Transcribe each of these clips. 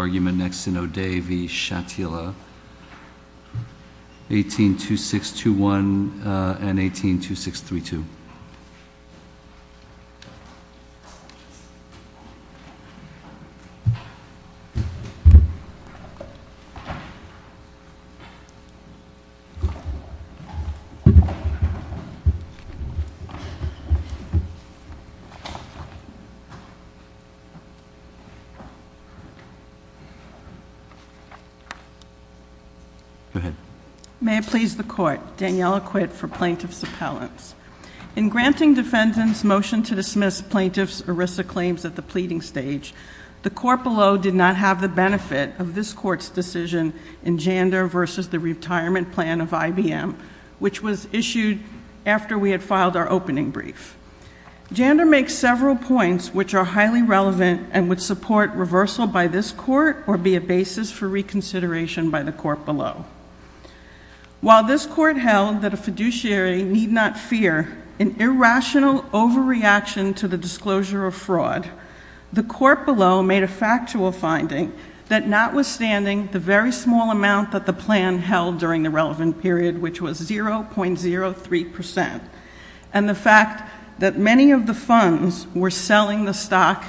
argument next in O'Day v. Shatila, 18.2621 and 18.2632. May it please the Court, Daniella Quitt for Plaintiff's Appellants. In granting defendants motion to dismiss plaintiff's ERISA claims at the pleading stage, the court below did not have the benefit of this court's decision in Jander v. The Retirement Plan of IBM, which was issued after we had filed our opening brief. Jander makes several points which are highly relevant and would support reversal by this court or be a basis for reconsideration by the court below. While this court held that a fiduciary need not fear an irrational overreaction to the disclosure of fraud, the court below made a factual finding that notwithstanding the very small amount that the plan held during the relevant period, which was 0.03 percent, and the fact that many of the funds were selling the stock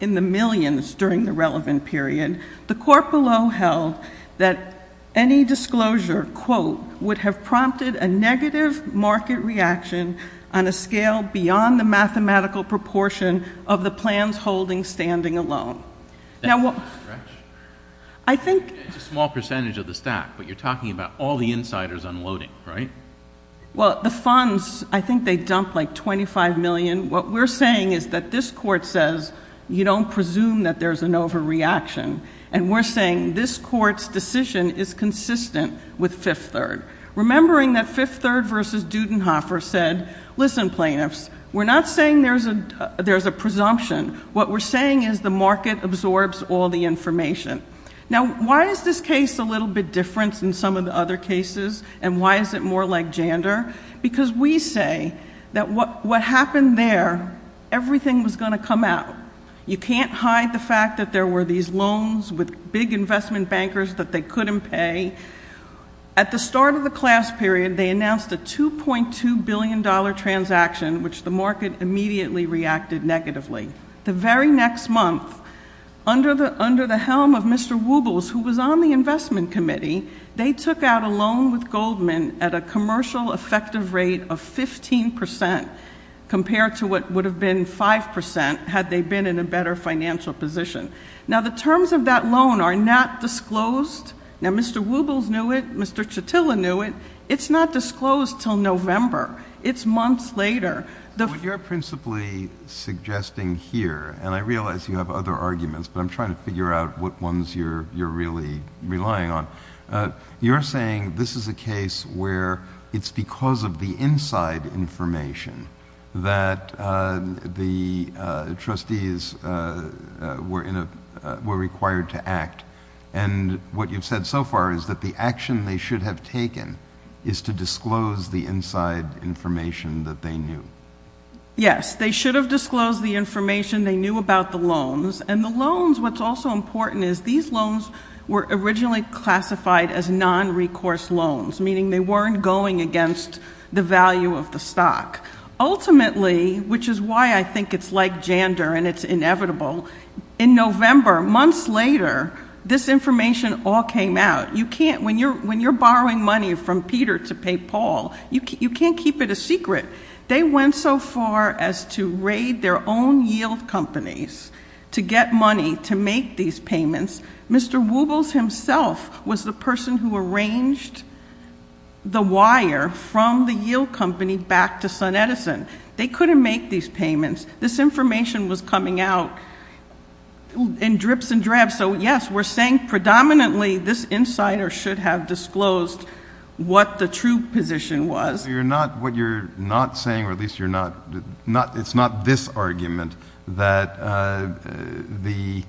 in the millions during the relevant period, the court below held that any disclosure, quote, would have prompted a negative market reaction on a scale beyond the mathematical proportion of the plans holding standing alone. That's a small percentage of the stock, but you're talking about all the insiders unloading, right? Well, the funds, I think they dumped like $25 million. What we're saying is that this court says you don't presume that there's an overreaction, and we're saying this court's decision is consistent with Fifth Third, remembering that Fifth Third v. Dudenhofer said, listen, plaintiffs, we're not saying there's a presumption. What we're saying is the market absorbs all the information. Now, why is this case a little bit different than some of the other cases, and why is it more like Jander? Because we say that what happened there, everything was going to come out. You can't hide the fact that there were these loans with big investment bankers that they couldn't pay. At the start of the class period, they announced a $2.2 billion transaction, which the market immediately reacted negatively. The very next month, under the helm of Mr. Wubles, who was on the investment committee, they took out a loan with Goldman at a commercial effective rate of 15 percent, compared to what would have been 5 percent, had they been in a better financial position. Now, the terms of that loan are not disclosed. Now, Mr. Wubles knew it. Mr. Chatilla knew it. It's not disclosed until November. It's months later. What you're principally suggesting here, and I realize you have other arguments, but I'm saying this is a case where it's because of the inside information that the trustees were required to act, and what you've said so far is that the action they should have taken is to disclose the inside information that they knew. Yes. They should have disclosed the information they knew about the loans, and the loans, what's also important is these loans were originally classified as non-recourse loans, meaning they weren't going against the value of the stock. Ultimately, which is why I think it's like Jander and it's inevitable, in November, months later, this information all came out. You can't, when you're borrowing money from Peter to pay Paul, you can't keep it a secret. They went so far as to raid their own yield companies to get money to make these payments. Mr. Wubles himself was the person who arranged the wire from the yield company back to SunEdison. They couldn't make these payments. This information was coming out in drips and drabs. So yes, we're saying predominantly this insider should have disclosed what the true position was. So you're not, what you're not saying, or at least you're not, it's not this argument that the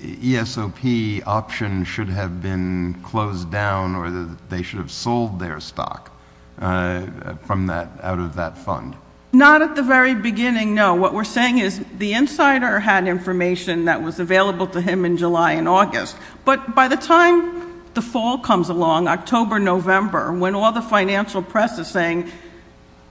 ESOP option should have been closed down or that they should have sold their stock from that, out of that fund. Not at the very beginning, no. What we're saying is the insider had information that was available to him in July and August, but by the time the fall comes along, October, November, when all the financial press is saying,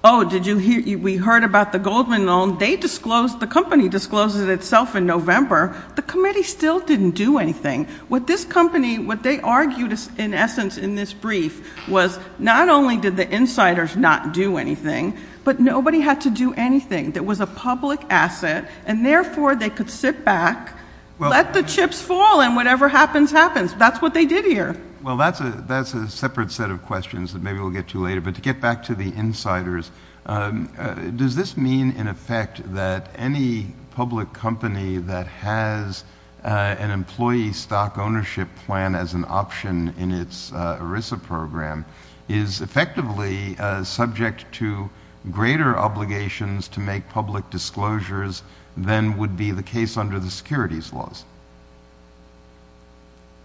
oh, did you hear, we heard about the Goldman loan, they disclosed, the company discloses itself in November, the committee still didn't do anything. What this company, what they argued in essence in this brief was not only did the insiders not do anything, but nobody had to do anything. There was a public asset and therefore they could sit back, let the chips fall and whatever happens, happens. That's what they did here. Well, that's a, that's a separate set of questions that maybe we'll get to later. But to get back to the insiders, does this mean in effect that any public company that has an employee stock ownership plan as an option in its ERISA program is effectively subject to greater obligations to make public disclosures than would be the case under the securities laws?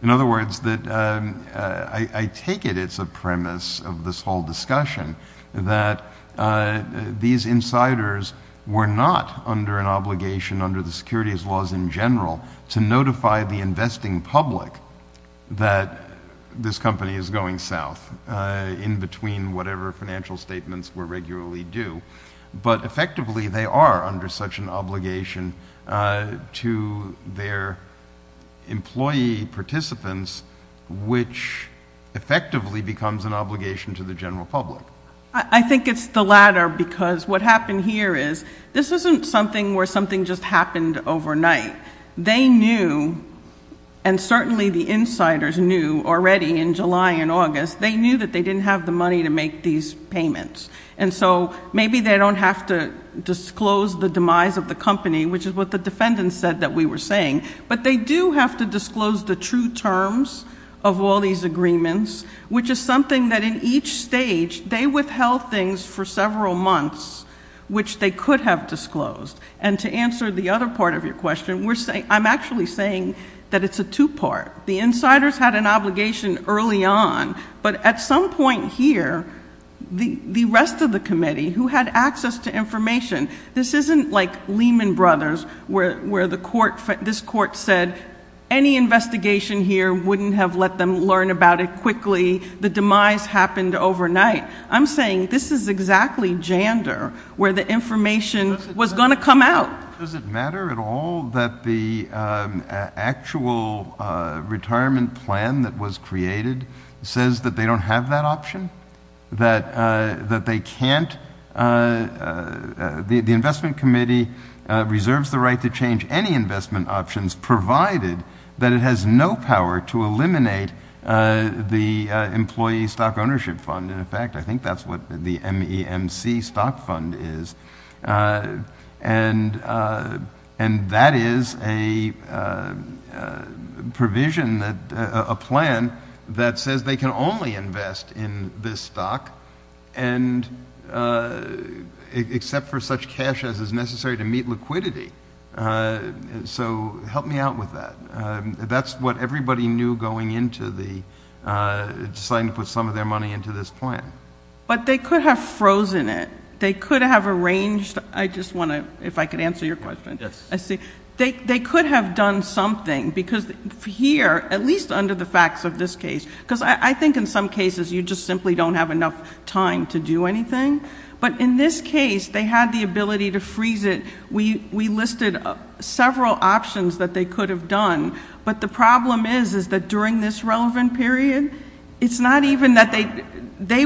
In other words, that I take it it's a premise of this whole discussion that these insiders were not under an obligation under the securities laws in general to notify the investing public that this company is going south in between whatever financial statements were regularly due. But effectively they are under such an obligation to their employee participants, which effectively becomes an obligation to the general public. I think it's the latter because what happened here is, this isn't something where something just happened overnight. They knew, and certainly the insiders knew already in July and August, they knew that they didn't have the money to make these payments. And so maybe they don't have to disclose the demise of the company, which is what the defendant said that we were saying. But they do have to disclose the true terms of all these agreements, which is something that in each stage, they withheld things for several months, which they could have disclosed. And to answer the other part of your question, I'm actually saying that it's a two part. The insiders had an obligation early on, but at some point here, the rest of the committee who had access to information, this isn't like Lehman Brothers where this court said, any investigation here wouldn't have let them learn about it quickly. The demise happened overnight. I'm saying this is exactly Jander, where the information was going to come out. Does it matter at all that the actual retirement plan that was created says that they don't have that option? That they can't, the investment committee reserves the right to change any investment options provided that it has no power to eliminate the employee stock ownership fund. And in fact, I think that's what the MEMC stock fund is. And that is a provision, a plan that says they can only invest in this stock. And except for such cash as is necessary to meet liquidity. So help me out with that. That's what everybody knew going into the, deciding to put some of their money into this plan. But they could have frozen it. They could have arranged, I just want to, if I could answer your question. Yes. I see. They could have done something, because here, at least under the facts of this case, because I think in some cases, you just simply don't have enough time to do anything. But in this case, they had the ability to freeze it. We listed several options that they could have done. But the problem is, is that during this relevant period, it's not even that they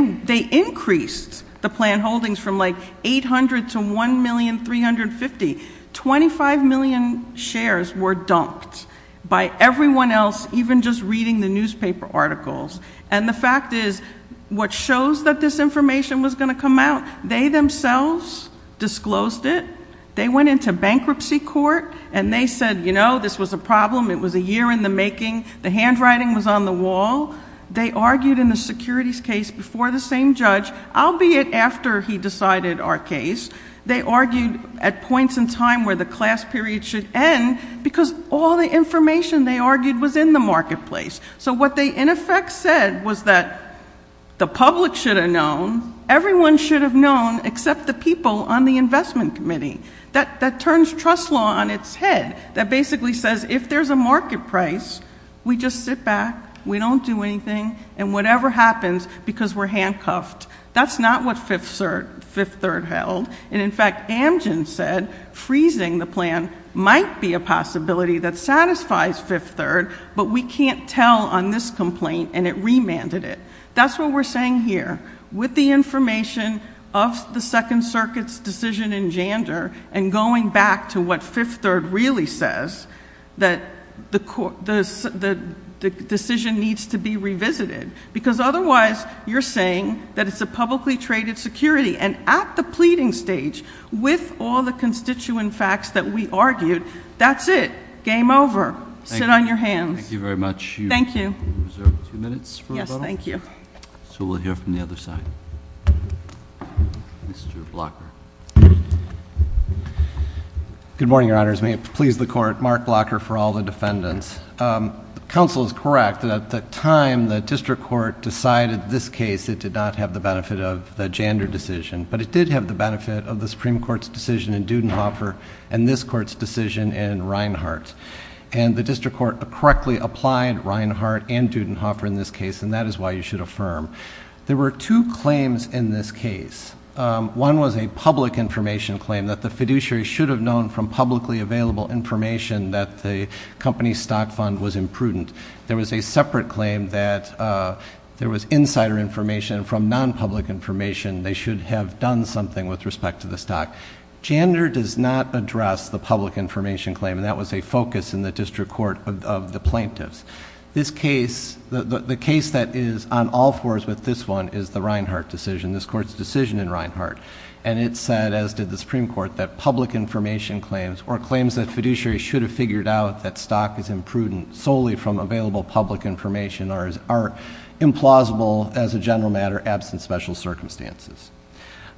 increased the plan holdings from 800 to 1,350, 25 million shares were dumped. By everyone else, even just reading the newspaper articles. And the fact is, what shows that this information was going to come out, they themselves disclosed it. They went into bankruptcy court, and they said, you know, this was a problem, it was a year in the making, the handwriting was on the wall. They argued in the securities case before the same judge, albeit after he decided our case. They argued at points in time where the class period should end, because all the information they argued was in the marketplace. So what they, in effect, said was that the public should have known, everyone should have known, except the people on the investment committee. That turns trust law on its head. That basically says, if there's a market price, we just sit back, we don't do anything, and whatever happens, because we're handcuffed. That's not what Fifth Third held, and in fact, Amgen said, freezing the plan might be a possibility that satisfies Fifth Third, but we can't tell on this complaint, and it remanded it. That's what we're saying here. With the information of the Second Circuit's decision in Jander, and going back to what Fifth Third really says, that the decision needs to be revisited. Because otherwise, you're saying that it's a publicly traded security. And at the pleading stage, with all the constituent facts that we argued, that's it. Game over. Sit on your hands. Thank you very much. Thank you. You have two minutes for a vote? Yes, thank you. So we'll hear from the other side. Mr. Blocker. Good morning, your honors. May it please the court, Mark Blocker for all the defendants. Counsel is correct that at the time the district court decided this case, it did not have the benefit of the Jander decision. But it did have the benefit of the Supreme Court's decision in Dudenhofer, and this court's decision in Reinhart. And the district court correctly applied Reinhart and Dudenhofer in this case, and that is why you should affirm. There were two claims in this case. One was a public information claim that the fiduciary should have known from publicly available information that the company's stock fund was imprudent. There was a separate claim that there was insider information from non-public information. They should have done something with respect to the stock. Jander does not address the public information claim, and that was a focus in the district court of the plaintiffs. This case, the case that is on all fours with this one is the Reinhart decision, this court's decision in Reinhart. And it said, as did the Supreme Court, that public information claims, or claims that fiduciary should have figured out that stock is imprudent, solely from available public information, are implausible as a general matter, absent special circumstances.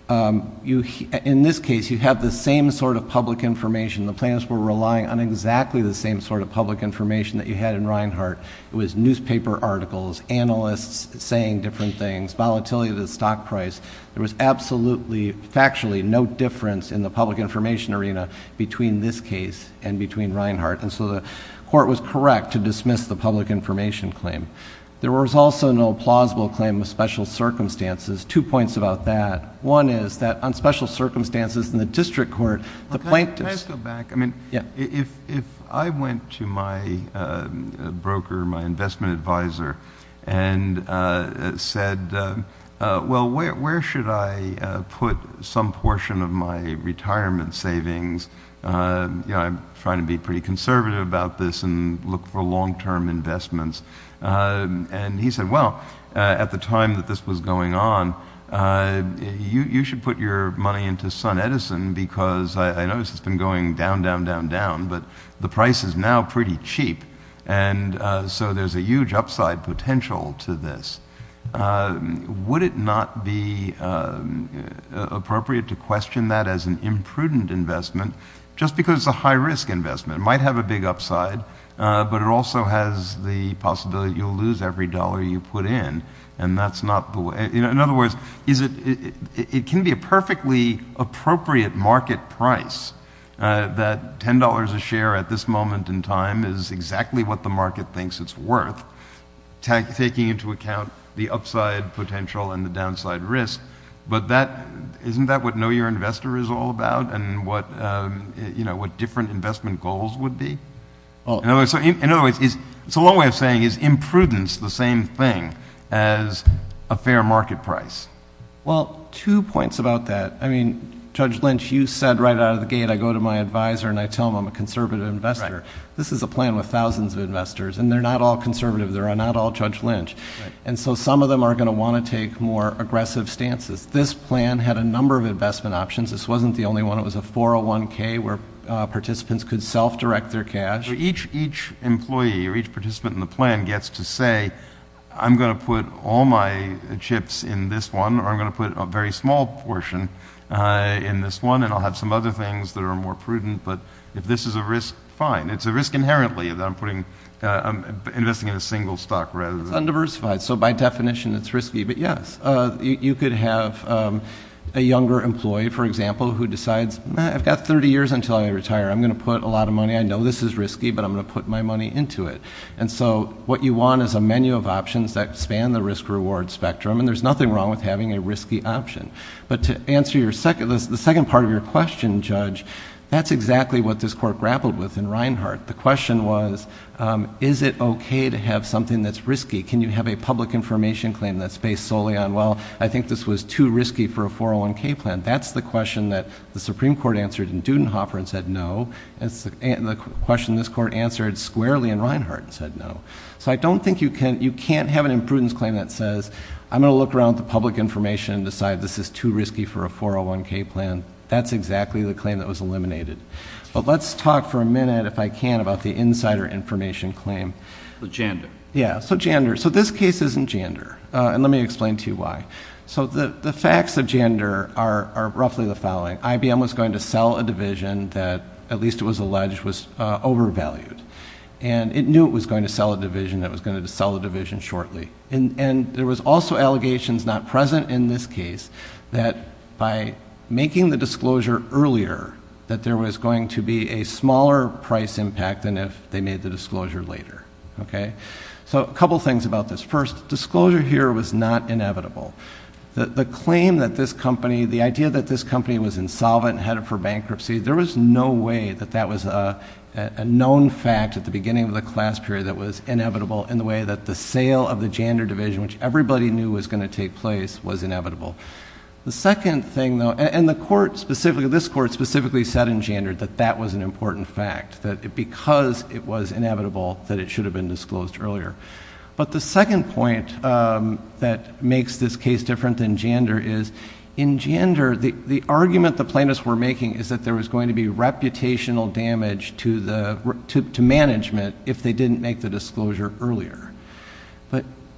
In this case, you have the same sort of public information. The plaintiffs were relying on exactly the same sort of public information that you had in Reinhart. It was newspaper articles, analysts saying different things, volatility of the stock price. There was absolutely, factually, no difference in the public information arena between this case and between Reinhart. And so the court was correct to dismiss the public information claim. There was also no plausible claim of special circumstances. Two points about that. One is that on special circumstances in the district court, the plaintiffs- Well, where should I put some portion of my retirement savings? I'm trying to be pretty conservative about this and look for long-term investments. And he said, well, at the time that this was going on, you should put your money into SunEdison because I notice it's been going down, down, down, down. But the price is now pretty cheap, and so there's a huge upside potential to this. Would it not be appropriate to question that as an imprudent investment, just because it's a high-risk investment? It might have a big upside, but it also has the possibility that you'll lose every dollar you put in, and that's not the way- In other words, it can be a perfectly appropriate market price that $10 a share at this moment in time is exactly what the market thinks it's worth, taking into account the upside potential and the downside risk. But isn't that what Know Your Investor is all about, and what different investment goals would be? In other words, it's a long way of saying, is imprudence the same thing as a fair market price? Well, two points about that. I mean, Judge Lynch, you said right out of the gate, I go to my advisor and I tell him I'm a conservative investor. This is a plan with thousands of investors, and they're not all conservative. They're not all Judge Lynch. And so some of them are going to want to take more aggressive stances. This plan had a number of investment options. This wasn't the only one. It was a 401k, where participants could self-direct their cash. Each employee or each participant in the plan gets to say, I'm going to put all my chips in this one, or I'm going to put a very small portion in this one, and I'll have some other things that are more prudent. But if this is a risk, fine. It's a risk inherently that I'm investing in a single stock rather than- It's undiversified. So by definition, it's risky. But yes, you could have a younger employee, for example, who decides, I've got 30 years until I retire. I'm going to put a lot of money. I know this is risky, but I'm going to put my money into it. And so what you want is a menu of options that span the risk-reward spectrum. And there's nothing wrong with having a risky option. But to answer the second part of your question, Judge, that's exactly what this court grappled with in Reinhart. The question was, is it OK to have something that's risky? Can you have a public information claim that's based solely on, well, I think this was too risky for a 401k plan? That's the question that the Supreme Court answered in Dudenhofer and said no. It's the question this court answered squarely in Reinhart and said no. So I don't think you can't have an imprudence claim that says, I'm going to look around at the public information and decide this is too risky for a 401k plan. That's exactly the claim that was eliminated. But let's talk for a minute, if I can, about the insider information claim. The gender. Yeah, so gender. So this case isn't gender, and let me explain to you why. So the facts of gender are roughly the following. IBM was going to sell a division that, at least it was alleged, was overvalued. And it knew it was going to sell a division, it was going to sell a division shortly. And there was also allegations not present in this case that by making the disclosure earlier, that there was going to be a smaller price impact than if they made the disclosure later, okay? So a couple things about this. First, disclosure here was not inevitable. The claim that this company, the idea that this company was insolvent, headed for bankruptcy, there was no way that that was a known fact at the beginning of the class period that was inevitable in the way that the sale of the gender division, which everybody knew was going to take place, was inevitable. The second thing, though, and the court specifically, this court specifically said in gender that that was an important fact. That because it was inevitable, that it should have been disclosed earlier. But the second point that makes this case different than gender is, in gender, the argument the plaintiffs were making is that there was going to be reputational damage to management if they didn't make the disclosure earlier.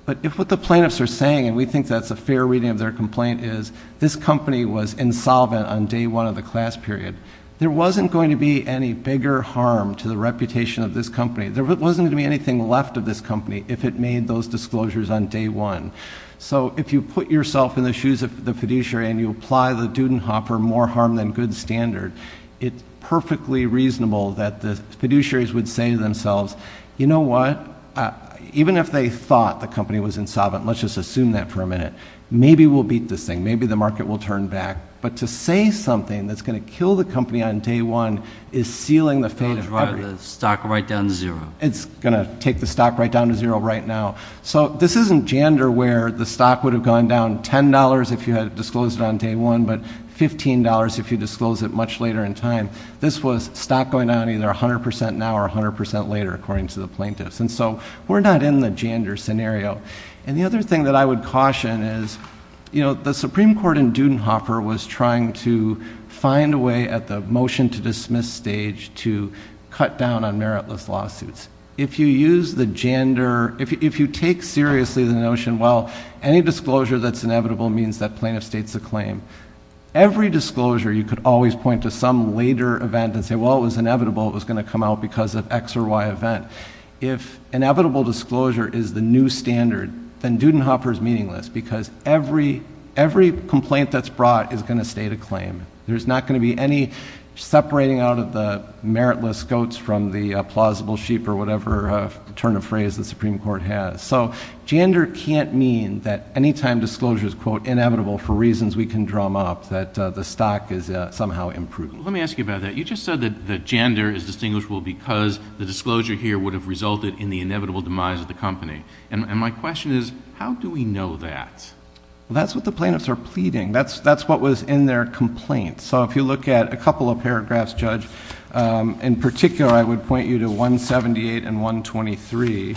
But if what the plaintiffs are saying, and we think that's a fair reading of their complaint, is this company was insolvent on day one of the class period, there wasn't going to be any bigger harm to the reputation of this company. There wasn't going to be anything left of this company if it made those disclosures on day one. So if you put yourself in the shoes of the fiduciary and you apply the Dudenhoffer more harm than good standard, it's perfectly reasonable that the fiduciaries would say to themselves, you know what? Even if they thought the company was insolvent, let's just assume that for a minute. Maybe we'll beat this thing, maybe the market will turn back. But to say something that's going to kill the company on day one is sealing the fate of everybody. The stock right down to zero. It's going to take the stock right down to zero right now. So this isn't Jandor where the stock would have gone down $10 if you had disclosed it on day one, but $15 if you disclosed it much later in time. This was stock going down either 100% now or 100% later, according to the plaintiffs. And so we're not in the Jandor scenario. And the other thing that I would caution is, the Supreme Court in Dudenhoffer was trying to find a way at the motion to dismiss stage to cut down on meritless lawsuits. If you use the Jandor, if you take seriously the notion, well, any disclosure that's inevitable means that plaintiff states a claim. Every disclosure, you could always point to some later event and say, well, it was inevitable, it was going to come out because of x or y event. If inevitable disclosure is the new standard, then Dudenhoffer's meaningless. Because every complaint that's brought is going to state a claim. There's not going to be any separating out of the meritless goats from the plausible sheep or whatever turn of phrase the Supreme Court has. So Jandor can't mean that any time disclosure is quote inevitable for reasons we can drum up that the stock is somehow improving. Let me ask you about that. You just said that Jandor is distinguishable because the disclosure here would have resulted in the inevitable demise of the company. And my question is, how do we know that? That's what the plaintiffs are pleading. That's what was in their complaint. So if you look at a couple of paragraphs, Judge, in particular, I would point you to 178 and 123.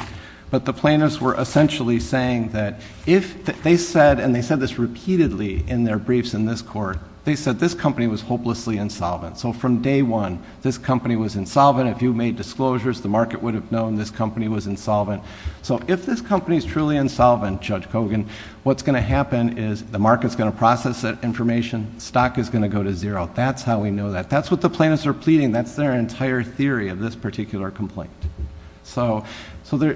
But the plaintiffs were essentially saying that if they said, and they said this repeatedly in their briefs in this court. They said this company was hopelessly insolvent. So from day one, this company was insolvent. If you made disclosures, the market would have known this company was insolvent. So if this company's truly insolvent, Judge Kogan, what's going to happen is the market's going to process that information. Stock is going to go to zero. That's how we know that. That's what the plaintiffs are pleading. That's their entire theory of this particular complaint. So the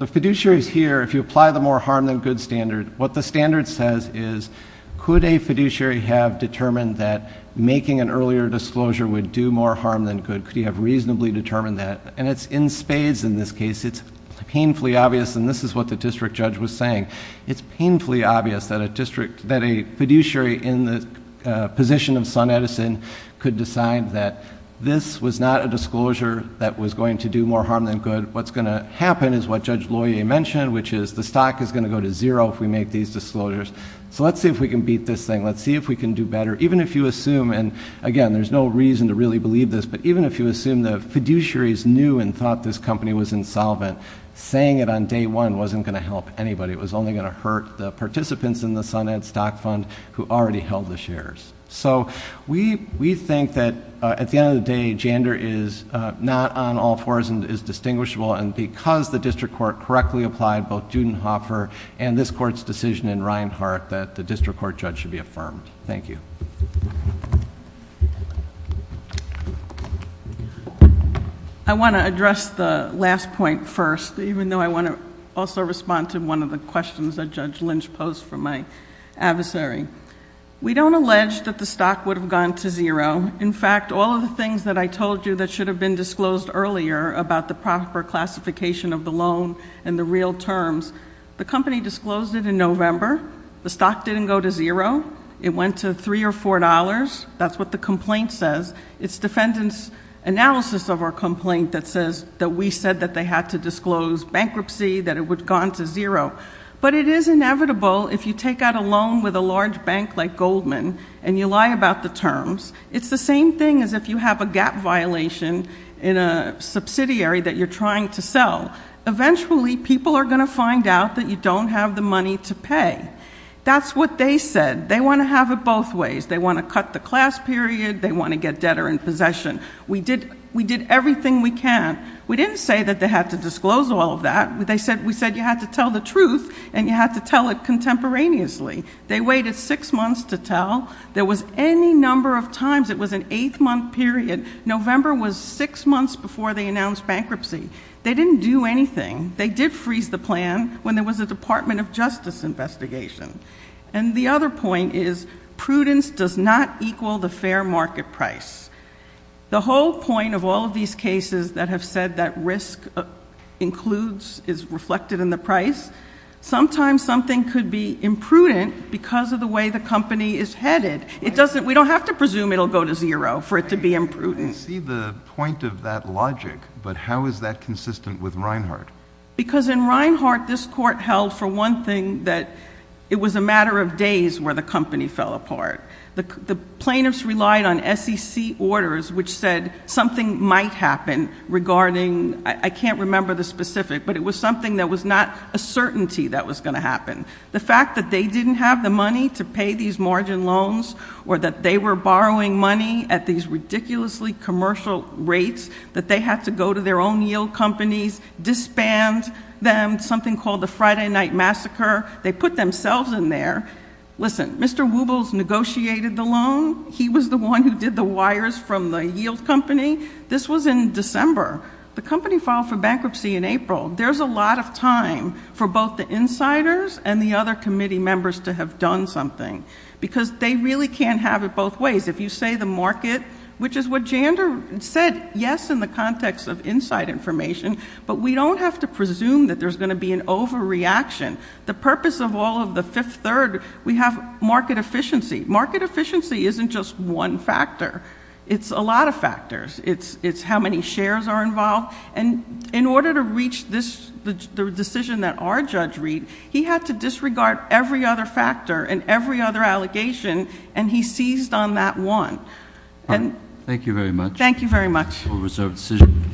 fiduciaries here, if you apply the more harm than good standard, what the standard says is, could a fiduciary have determined that making an earlier disclosure would do more harm than good? Could he have reasonably determined that? And it's in spades in this case. It's painfully obvious, and this is what the district judge was saying. It's painfully obvious that a district, that a fiduciary in the position of Sun Edison could decide that this was not a disclosure that was going to do more harm than good. What's going to happen is what Judge Loyer mentioned, which is the stock is going to go to zero if we make these disclosures. So let's see if we can beat this thing. Let's see if we can do better. Even if you assume, and again, there's no reason to really believe this, but even if you assume the fiduciaries knew and thought this company was insolvent, saying it on day one wasn't going to help anybody. It was only going to hurt the participants in the SunEd stock fund who already held the shares. So we think that at the end of the day, gender is not on all fours and is distinguishable. And because the district court correctly applied both Judenhofer and this court's decision in Reinhart that the district court judge should be affirmed. Thank you. I want to address the last point first, even though I want to also respond to one of the questions that Judge Lynch posed for my adversary. We don't allege that the stock would have gone to zero. In fact, all of the things that I told you that should have been disclosed earlier about the proper classification of the loan and the real terms. The company disclosed it in November. The stock didn't go to zero. It went to three or four dollars. That's what the complaint says. It's defendant's analysis of our complaint that says that we said that they had to disclose bankruptcy, that it would have gone to zero. But it is inevitable if you take out a loan with a large bank like Goldman and you lie about the terms. It's the same thing as if you have a gap violation in a subsidiary that you're trying to sell. Eventually, people are going to find out that you don't have the money to pay. That's what they said. They want to have it both ways. They want to cut the class period. They want to get debtor in possession. We did everything we can. We didn't say that they had to disclose all of that. We said you had to tell the truth and you had to tell it contemporaneously. They waited six months to tell. There was any number of times, it was an eight month period. November was six months before they announced bankruptcy. They didn't do anything. They did freeze the plan when there was a Department of Justice investigation. And the other point is prudence does not equal the fair market price. The whole point of all of these cases that have said that risk is reflected in the price, sometimes something could be imprudent because of the way the company is headed. We don't have to presume it'll go to zero for it to be imprudent. I didn't see the point of that logic, but how is that consistent with Reinhart? Because in Reinhart, this court held for one thing that it was a matter of days where the company fell apart. The plaintiffs relied on SEC orders which said something might happen regarding, I can't remember the specific, but it was something that was not a certainty that was going to happen. The fact that they didn't have the money to pay these margin loans, or that they were borrowing money at these ridiculously commercial rates, that they had to go to their own yield companies, disband them, something called the Friday Night Massacre. They put themselves in there. Listen, Mr. Wubles negotiated the loan. He was the one who did the wires from the yield company. This was in December. The company filed for bankruptcy in April. There's a lot of time for both the insiders and the other committee members to have done something. Because they really can't have it both ways. If you say the market, which is what Jander said, yes, in the context of inside information. But we don't have to presume that there's going to be an overreaction. The purpose of all of the fifth third, we have market efficiency. Market efficiency isn't just one factor. It's a lot of factors. It's how many shares are involved. And in order to reach the decision that our judge read, he had to disregard every other factor and every other allegation, and he seized on that one. And- Thank you very much. Thank you very much. We'll reserve the decision.